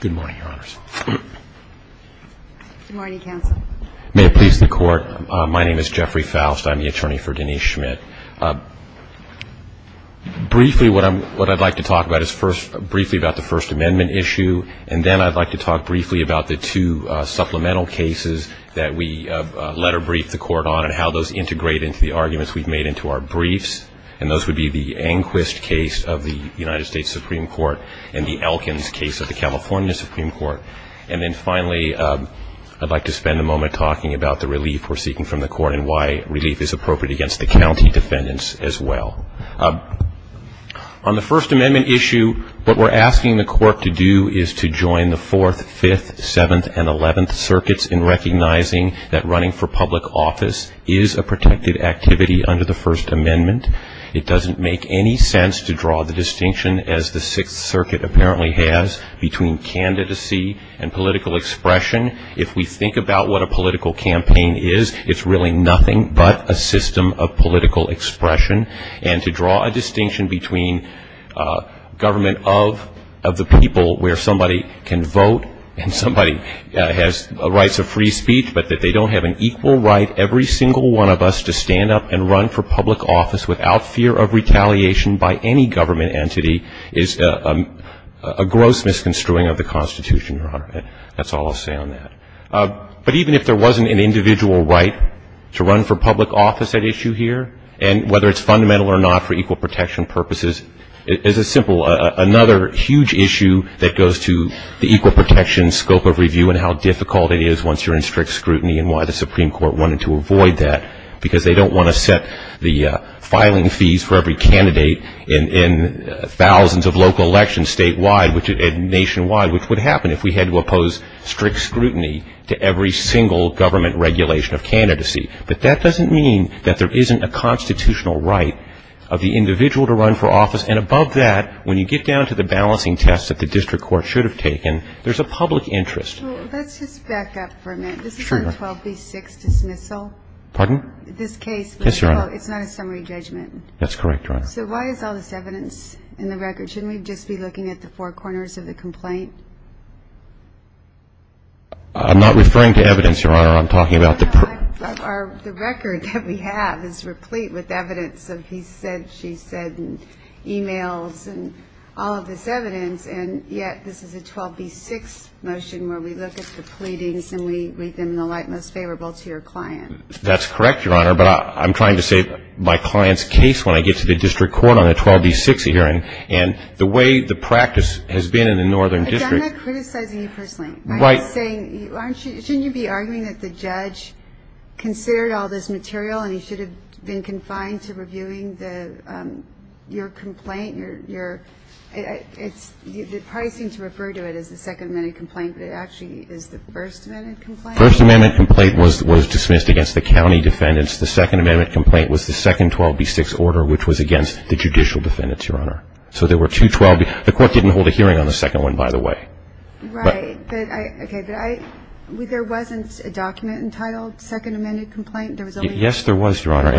Good morning, Your Honors. Good morning, Counsel. May it please the Court, my name is Jeffrey Faust. I'm the attorney for Denise Schmidt. Briefly, what I'd like to talk about is briefly about the First Amendment issue, and then I'd like to talk briefly about the two supplemental cases that we letter brief the Court on and how those integrate into the arguments we've made into our briefs, and those would be the Anquist case of the United States Supreme Court and the Elkins case of the California Supreme Court. And then finally, I'd like to spend a moment talking about the relief we're seeking from the Court and why relief is appropriate against the county defendants as well. On the First Amendment issue, what we're asking the Court to do is to join the Fourth, Fifth, Seventh, and Eleventh Circuits in recognizing that running for public office is a protected activity under the First Amendment. It doesn't make any sense to draw the distinction, as the Sixth Circuit apparently has, between candidacy and political expression. If we think about what a political campaign is, it's really nothing but a campaign to draw a distinction between government of the people where somebody can vote and somebody has rights of free speech, but that they don't have an equal right, every single one of us, to stand up and run for public office without fear of retaliation by any government entity is a gross misconstruing of the Constitution, Your Honor. That's all I'll say on that. But even if there wasn't an individual right to run for public office at issue here, and whether it's fundamental or not for equal protection purposes, it's a simple, another huge issue that goes to the equal protection scope of review and how difficult it is once you're in strict scrutiny and why the Supreme Court wanted to avoid that, because they don't want to set the filing fees for every candidate in thousands of cases to be equal protection fees. They want to set the filing fees for every candidate in thousands of cases, and they want to avoid that. And that's what the Constitution says is a constitutional right to every single government regulation of candidacy. But that doesn't mean that there isn't a constitutional right of the individual to run for office, and above that, when you get down to the balancing tests that the district court should have taken, there's a public interest. So let's just back up for a minute. This is not a 12b-6 dismissal. Pardon? This case. Yes, Your Honor. It's not a summary judgment. That's correct, Your Honor. So why is all this evidence in the record? Shouldn't we just be looking at the four corners of the complaint? I'm not referring to evidence, Your Honor. I'm talking about the per- No, the record that we have is replete with evidence of he said, she said and e-mails and all of this evidence, and yet this is a 12b-6 motion where we look at the pleadings and we make them in the light most favorable to your client. That's correct, Your Honor, but I'm trying to save my client's case when I get to the district court on a 12b-6 hearing. And the way the practice has been in the northern district I'm not criticizing you personally. Right. I'm just saying, shouldn't you be arguing that the judge considered all this material and he should have been confined to reviewing the Your complaint, your, it's, they probably seem to refer to it as the second amended complaint, but it actually is the first amended complaint. First amendment complaint was dismissed against the county defendants. The second amendment complaint was the second 12b-6 order, which was against the judicial defendants, Your Honor. So there were two 12b- the court didn't hold a hearing on the second one, by the way. Right, but I, okay, but I, there wasn't a document entitled second amended complaint, there was only- Yes, Your Honor. I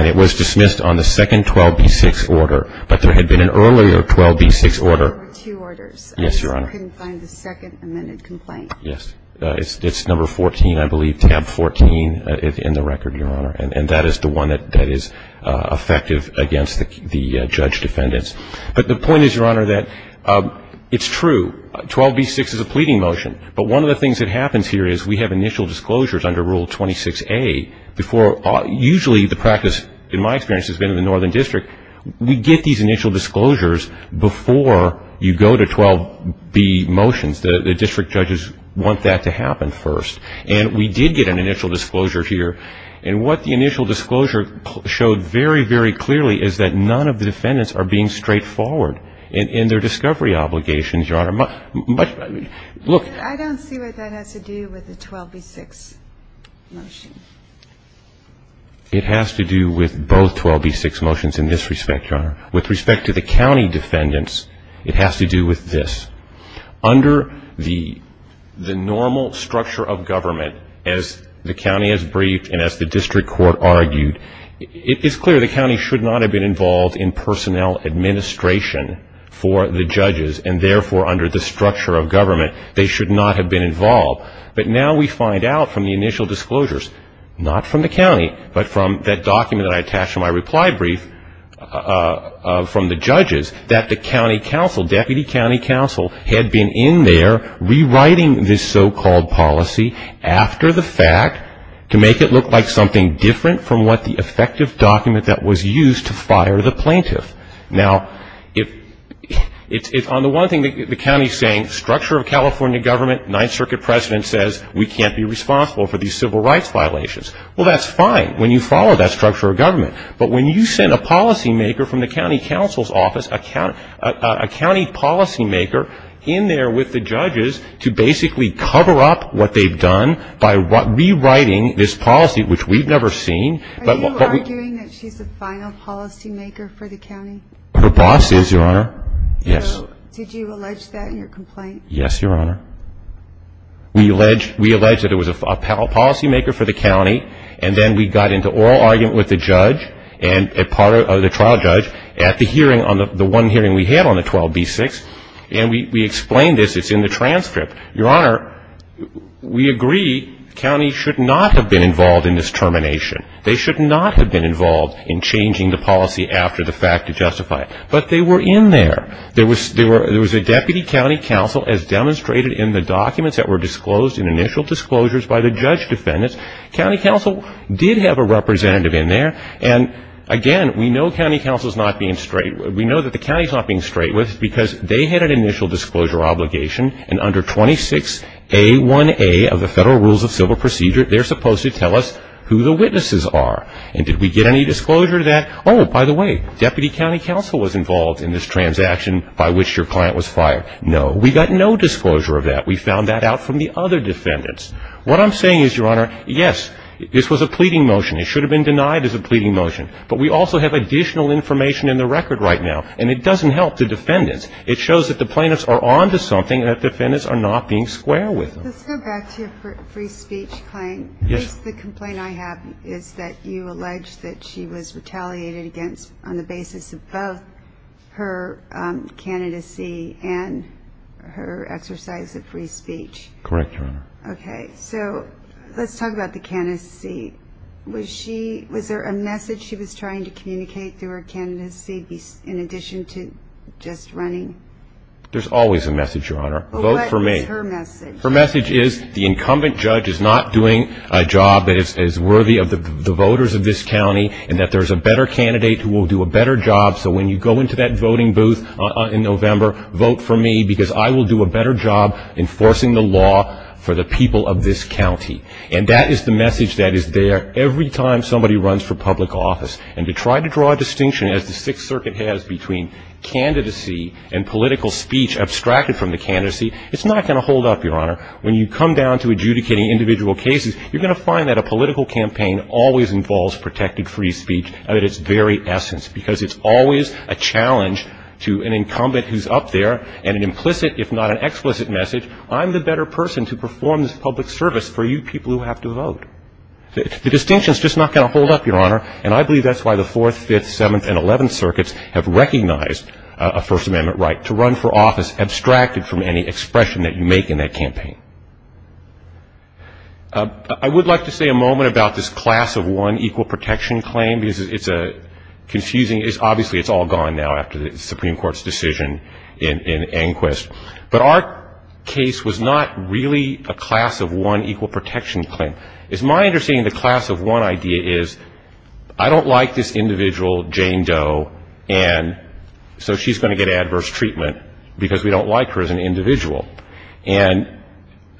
couldn't find the second amended complaint. Yes. It's number 14, I believe, tab 14 in the record, Your Honor, and that is the one that is effective against the judge defendants. But the point is, Your Honor, that it's true, 12b-6 is a pleading motion, but one of the things that happens here is we have initial disclosures under Rule 26a before, usually the practice, in my experience, has been in the northern district, we get these initial disclosures before you go to 12b motions. The district judges want that to happen first. And we did get an initial disclosure here, and what the initial disclosure showed very, very clearly is that none of the defendants are being straightforward in their discovery obligations, Your Honor. Look- I don't see what that has to do with the 12b-6 motion. It has to do with both 12b-6 motions in this respect, Your Honor. With respect to the county defendants, it has to do with this. Under the normal structure of government, as the county has briefed and as the district court argued, it is clear the county should not have been involved in personnel administration for the judges, and therefore, under the structure of government, they should not have been involved. But now we find out from the initial disclosures, not from the county, but from that document that I attached to my reply brief from the judges, that the county council, deputy county council, had been in there rewriting this so-called policy after the fact to make it look like something different from what the effective document that was used to fire the plaintiff. Now, if on the one thing the county is saying, structure of California government, ninth circuit president says we can't be responsible for these civil rights violations. Well, that's fine when you follow that structure of government. But when you send a policymaker from the county council's office, a county policymaker in there with the judges to basically cover up what they've done by rewriting this policy, which we've never seen- Are you arguing that she's the final policymaker for the county? Her boss is, Your Honor. Yes. So did you allege that in your complaint? Yes, Your Honor. We allege that it was a policymaker for the county, and then we got into oral argument with the judge and part of the trial judge at the hearing, the one hearing we had on the 12B6, and we explained this. It's in the transcript. Your Honor, we agree the county should not have been involved in this termination. They should not have been involved in changing the policy after the fact to justify it. But they were in there. There was a deputy county council, as demonstrated in the documents that were disclosed in initial disclosures by the judge defendants. County council did have a representative in there, and again, we know that the county is not being straight with us because they had an initial disclosure obligation, and under 26A1A of the federal rules of civil procedure, they're supposed to tell us who the witnesses are. And did we get any disclosure that, oh, by the way, deputy county council was involved in this transaction by which your client was fired? No. We got no disclosure of that. We found that out from the other defendants. What I'm saying is, Your Honor, yes, this was a pleading motion. It should have been denied as a pleading motion. But we also have additional information in the record right now, and it doesn't help the defendants. It shows that the plaintiffs are on to something and that defendants are not being square with them. Let's go back to your free speech claim. Yes. The complaint I have is that you allege that she was retaliated against on the basis of both her candidacy and her exercise of free speech. Correct, Your Honor. Okay. So let's talk about the candidacy. Was there a message she was trying to communicate through her candidacy in addition to just running? There's always a message, Your Honor. Vote for me. Her message is the incumbent judge is not doing a job that is worthy of the voters of this county and that there's a better candidate who will do a better job, so when you go into that voting booth in November, vote for me because I will do a better job enforcing the law for the people of this county. And that is the message that is there every time somebody runs for public office. And to try to draw a distinction, as the Sixth Circuit has, between candidacy and political speech abstracted from the candidacy, it's not going to hold up, Your Honor. When you come down to adjudicating individual cases, you're going to find that a political campaign always involves protected free speech at its very essence because it's always a challenge to an incumbent who's up there and an implicit if not an explicit message, I'm the better person to perform this public service for you people who have to vote. The distinction is just not going to hold up, Your Honor, and I believe that's why the Fourth, Fifth, Seventh, and Eleventh Circuits have recognized a First Amendment right to run for office that's abstracted from any expression that you make in that campaign. I would like to say a moment about this class of one equal protection claim because it's confusing. Obviously, it's all gone now after the Supreme Court's decision in Anquist. But our case was not really a class of one equal protection claim. It's my understanding the class of one idea is I don't like this individual, Jane Doe, and so she's going to get adverse treatment because we don't like her as an individual. And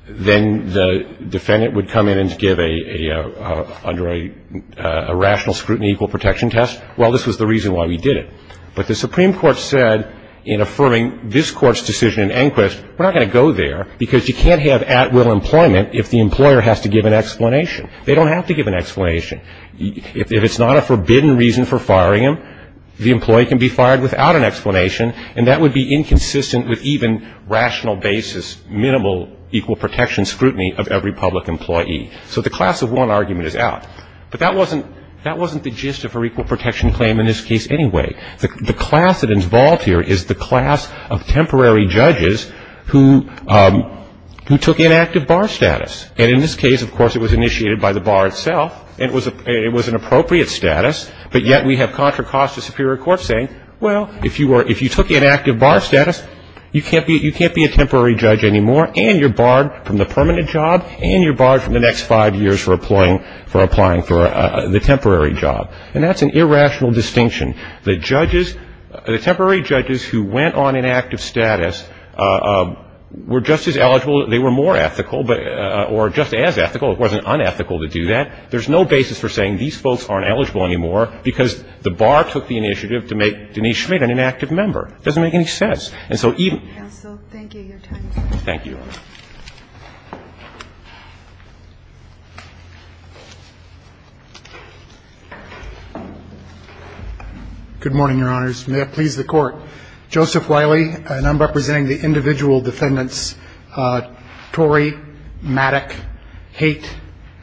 then the defendant would come in and give under a rational scrutiny equal protection test. Well, this was the reason why we did it. But the Supreme Court said in affirming this Court's decision in Anquist, we're not going to go there because you can't have at-will employment if the employer has to give an explanation. They don't have to give an explanation. If it's not a forbidden reason for firing them, the employee can be fired without an explanation, and that would be inconsistent with even rational basis, minimal equal protection scrutiny of every public employee. So the class of one argument is out. But that wasn't the gist of her equal protection claim in this case anyway. The class that is involved here is the class of temporary judges who took inactive bar status. And in this case, of course, it was initiated by the bar itself, and it was an appropriate status, but yet we have Contra Costa Superior Court saying, well, if you took inactive bar status, you can't be a temporary judge anymore, and you're barred from the permanent job, and you're barred from the next five years for applying for the temporary job. And that's an irrational distinction. The judges, the temporary judges who went on inactive status were just as eligible, they were more ethical, or just as ethical, it wasn't unethical to do that. There's no basis for saying these folks aren't eligible anymore because the bar took the initiative to make Denise Schmidt an inactive member. It doesn't make any sense. And so even ---- Thank you, Your Honor. Good morning, Your Honors. May it please the Court. Joseph Wiley, and I'm representing the individual defendants, Tory, Mattick, Haight,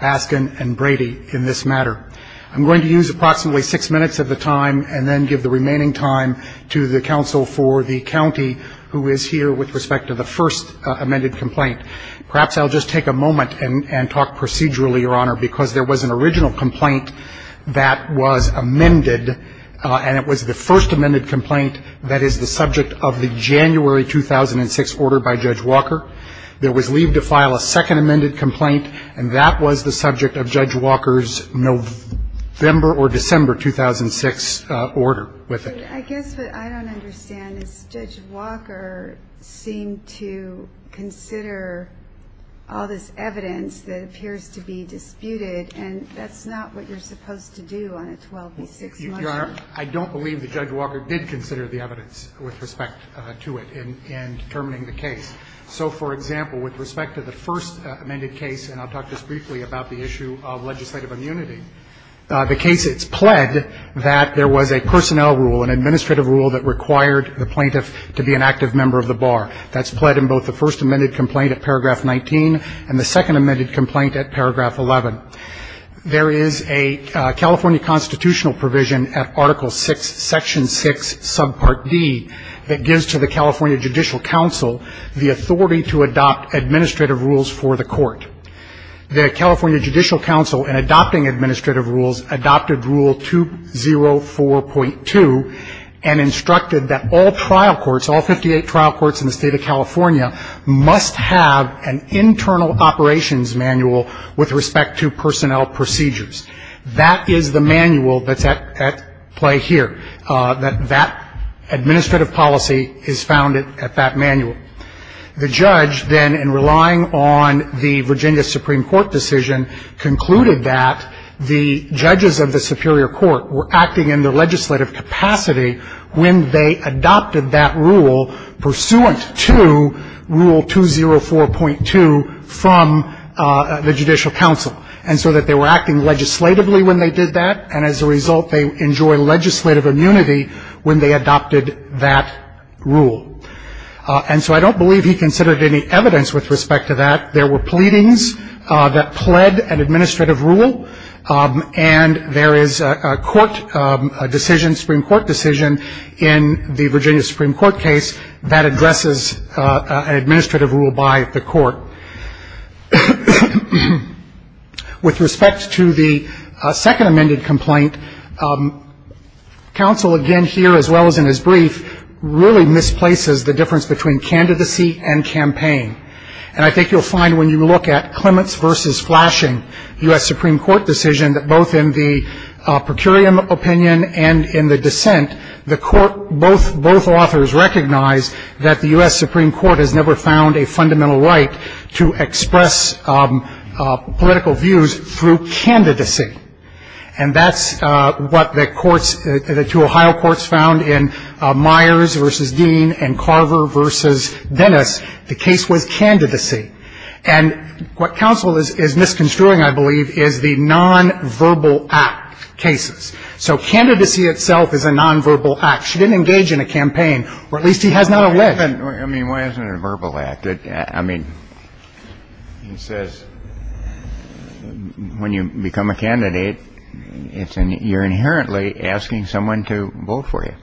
Askin, and Brady in this matter. I'm going to use approximately six minutes of the time and then give the remaining time to the counsel for the county who is here with respect to the first amended complaint. Perhaps I'll just take a moment and talk procedurally, Your Honor, because there was an original complaint that was amended, and it was the first amended complaint that is the subject of the January 2006 order by Judge Walker. There was leave to file a second amended complaint, and that was the subject of Judge Walker's November or December 2006 order with it. I guess what I don't understand is Judge Walker seemed to consider all this evidence that appears to be disputed, and that's not what you're supposed to do on a 12 v. 6 motion. Your Honor, I don't believe that Judge Walker did consider the evidence with respect to it in determining the case. So, for example, with respect to the first amended case, and I'll talk just briefly about the issue of legislative immunity, the case, it's pled that there was a personnel rule, an administrative rule that required the plaintiff to be an active member of the bar. That's pled in both the first amended complaint at paragraph 19 and the second amended complaint at paragraph 11. There is a California constitutional provision at Article VI, Section 6, Subpart D, that gives to the California Judicial Council the authority to adopt administrative rules for the court. The California Judicial Council, in adopting administrative rules, adopted Rule 204.2 and instructed that all trial courts, all 58 trial courts in the State of California, must have an internal operations manual with respect to personnel procedures. That is the manual that's at play here. That administrative policy is founded at that manual. The judge then, in relying on the Virginia Supreme Court decision, concluded that the judges of the Superior Court were acting in their legislative capacity when they adopted that rule pursuant to Rule 204.2 from the Judicial Council, and so that they were acting legislatively when they did that, and as a result they enjoy legislative immunity when they adopted that rule. And so I don't believe he considered any evidence with respect to that. There were pleadings that pled an administrative rule, and there is a court decision, Supreme Court decision, in the Virginia Supreme Court case that addresses an administrative rule by the court. With respect to the second amended complaint, counsel again here, as well as in his brief, really misplaces the difference between candidacy and campaign. And I think you'll find when you look at Clements v. Flashing, U.S. Supreme Court decision, that both in the per curiam opinion and in the dissent, both authors recognize that the U.S. Supreme Court has never found a fundamental right to express political views through candidacy. And that's what the two Ohio courts found in Myers v. Dean and Carver v. Dennis. The case was candidacy. And what counsel is misconstruing, I believe, is the nonverbal act cases. So candidacy itself is a nonverbal act. She didn't engage in a campaign, or at least he has not alleged. I mean, why isn't it a verbal act? I mean, he says when you become a candidate, you're inherently asking someone to vote for you.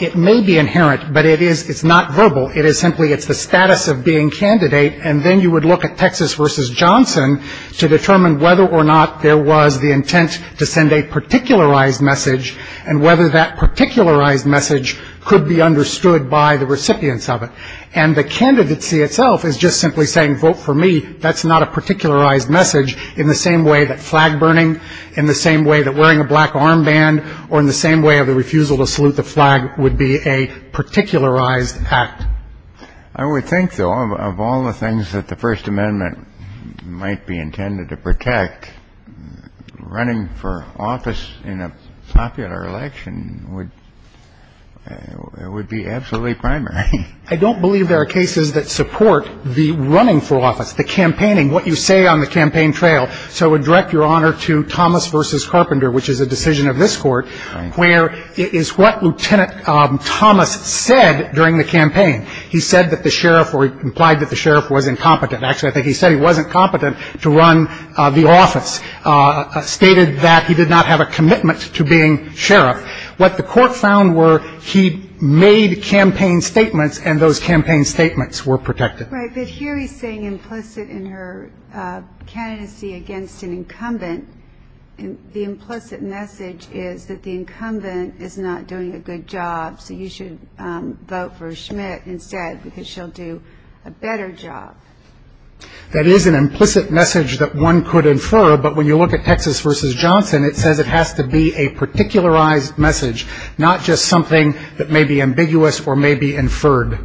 It may be inherent, but it's not verbal. It is simply it's the status of being candidate, and then you would look at Texas v. Johnson to determine whether or not there was the intent to send a particularized message and whether that particularized message could be understood by the recipients of it. And the candidacy itself is just simply saying vote for me. That's not a particularized message in the same way that flag burning, in the same way that wearing a black armband, or in the same way of the refusal to salute the flag would be a particularized act. I would think, though, of all the things that the First Amendment might be intended to protect, running for office in a popular election would be absolutely primary. I don't believe there are cases that support the running for office, the campaigning, what you say on the campaign trail. So I would direct Your Honor to Thomas v. Carpenter, which is a decision of this Court, where it is what Lieutenant Thomas said during the campaign. He said that the sheriff or implied that the sheriff was incompetent. Actually, I think he said he wasn't competent to run the office, stated that he did not have a commitment to being sheriff. What the Court found were he made campaign statements, and those campaign statements were protected. Right, but here he's saying implicit in her candidacy against an incumbent. The implicit message is that the incumbent is not doing a good job, so you should vote for Schmidt instead because she'll do a better job. That is an implicit message that one could infer, but when you look at Texas v. Johnson, it says it has to be a particularized message, not just something that may be ambiguous or may be inferred.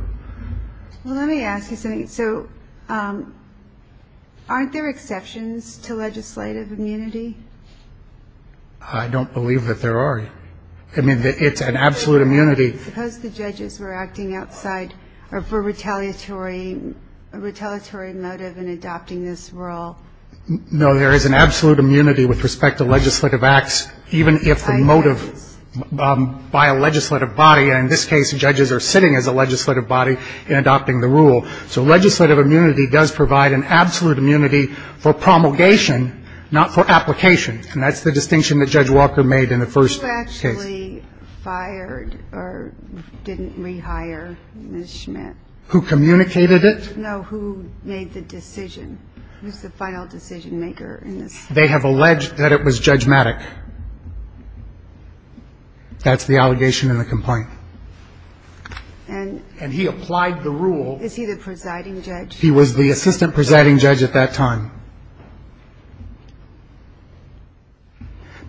Well, let me ask you something. So aren't there exceptions to legislative immunity? I don't believe that there are. I mean, it's an absolute immunity. Suppose the judges were acting outside or for retaliatory motive in adopting this role. No, there is an absolute immunity with respect to legislative acts, even if the motive by a legislative body, and in this case judges are sitting as a legislative body in adopting the rule. So legislative immunity does provide an absolute immunity for promulgation, not for application. And that's the distinction that Judge Walker made in the first case. Who actually fired or didn't rehire Ms. Schmidt? Who communicated it? No, who made the decision? Who's the final decision maker in this? They have alleged that it was judgematic. That's the allegation in the complaint. And he applied the rule. Is he the presiding judge? He was the assistant presiding judge at that time.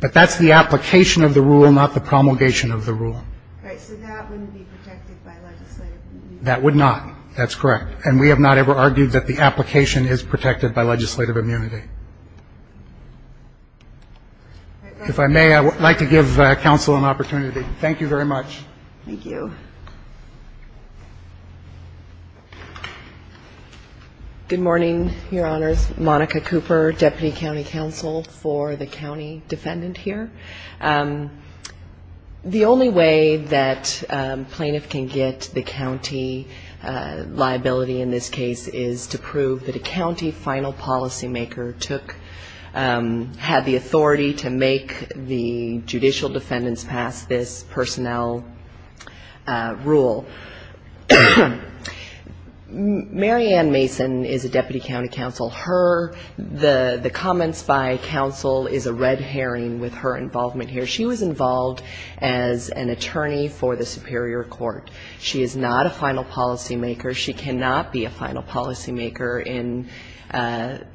But that's the application of the rule, not the promulgation of the rule. Right. So that wouldn't be protected by legislative immunity. That would not. That's correct. And we have not ever argued that the application is protected by legislative immunity. If I may, I would like to give counsel an opportunity. Thank you very much. Thank you. Good morning, Your Honors. Monica Cooper, Deputy County Counsel for the county defendant here. The only way that plaintiff can get the county liability in this case is to prove that a county final policymaker had the authority to make the judicial defendants pass this personnel rule. Mary Ann Mason is a Deputy County Counsel. Her, the comments by counsel is a red herring with her involvement here. She was involved as an attorney for the Superior Court. She is not a final policymaker. She cannot be a final policymaker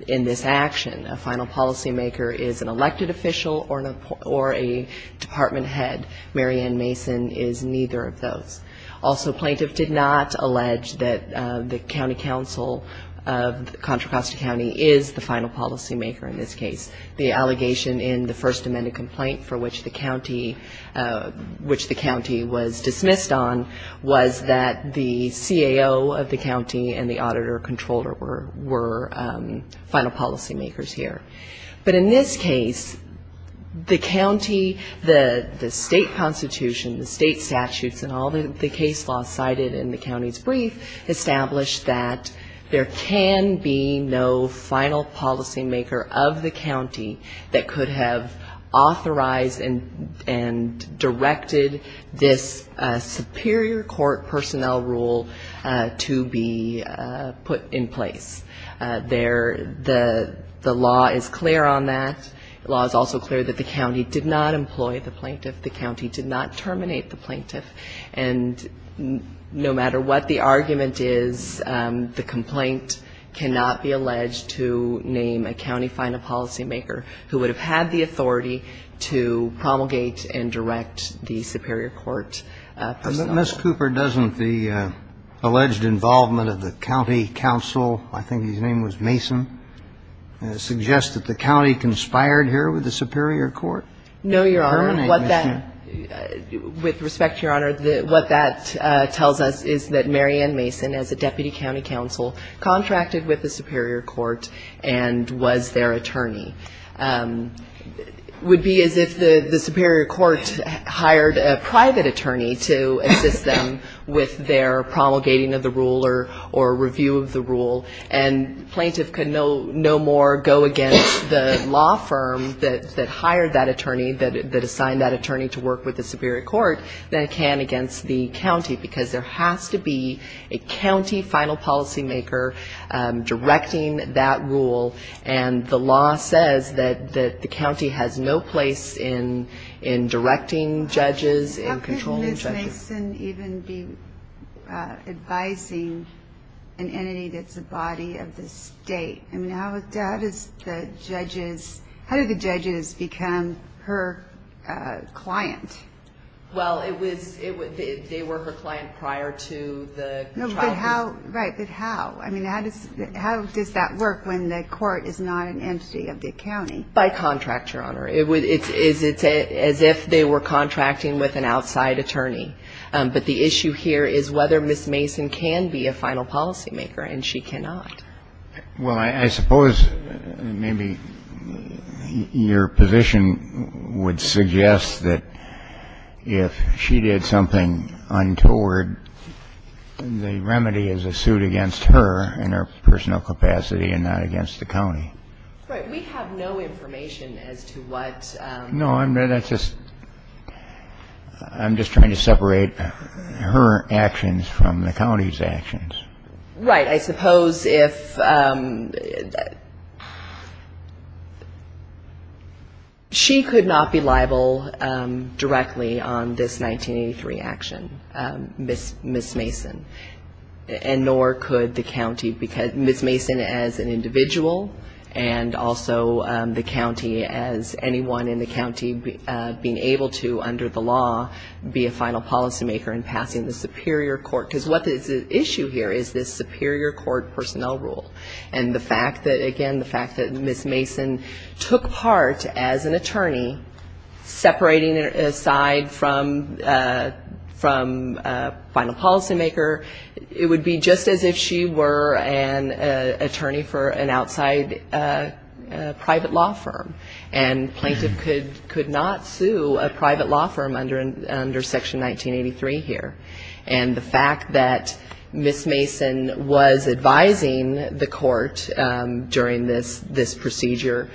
in this action. A final policymaker is an elected official or a department head. Mary Ann Mason is neither of those. Also, plaintiff did not allege that the county counsel of Contra Costa County is the final policymaker in this case. The allegation in the first amended complaint for which the county was dismissed on was that the CAO of the county and the auditor controller were final policymakers here. But in this case, the county, the state constitution, the state statutes, and all the case law cited in the county's brief established that there can be no final policymaker of the county that could have authorized and directed this Superior Court personnel rule to be put in place. There, the law is clear on that. The law is also clear that the county did not employ the plaintiff. The county did not terminate the plaintiff. And no matter what the argument is, the complaint cannot be alleged to name a county final policymaker who would have had the authority to promulgate and direct the Superior Court personnel. Ms. Cooper, doesn't the alleged involvement of the county counsel, I think his name was Mason, suggest that the county conspired here with the Superior Court? No, Your Honor. With respect, Your Honor, what that tells us is that Mary Ann Mason, as a deputy county counsel, contracted with the Superior Court and was their attorney. It would be as if the Superior Court hired a private attorney to assist them with their promulgating of the rule or review of the rule, and plaintiff could no more go against the law firm that hired that attorney, that assigned that attorney to work with the Superior Court, than it can against the county, because there has to be a county final policymaker directing that rule. And the law says that the county has no place in directing judges, in controlling judges. How could Ms. Mason even be advising an entity that's a body of the state? I mean, how does the judges become her client? Well, they were her client prior to the trial. Right, but how? I mean, how does that work when the court is not an entity of the county? By contract, Your Honor. It's as if they were contracting with an outside attorney. But the issue here is whether Ms. Mason can be a final policymaker, and she cannot. Well, I suppose maybe your position would suggest that if she did something untoward, the remedy is a suit against her in her personal capacity and not against the county. Right. We have no information as to what ---- No, I'm just trying to separate her actions from the county's actions. Right. I suppose if ---- She could not be liable directly on this 1983 action, Ms. Mason. And nor could the county, because Ms. Mason as an individual, and also the county as anyone in the county being able to, under the law, be a final policymaker in passing the superior court. Because what is at issue here is this superior court personnel rule. And the fact that, again, the fact that Ms. Mason took part as an attorney, separating aside from final policymaker, it would be just as if she were an attorney for an outside private law firm. And plaintiff could not sue a private law firm under Section 1983 here. And the fact that Ms. Mason was advising the court during this procedure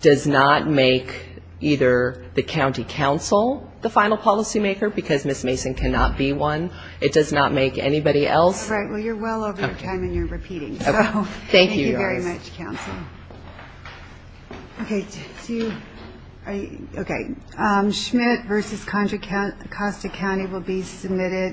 does not make either the county counsel the final policymaker, because Ms. Mason cannot be one. It does not make anybody else ---- All right. Well, you're well over your time and you're repeating. So thank you very much, counsel. Okay. Do you ---- Okay. Schmidt v. Contra Costa County will be submitted.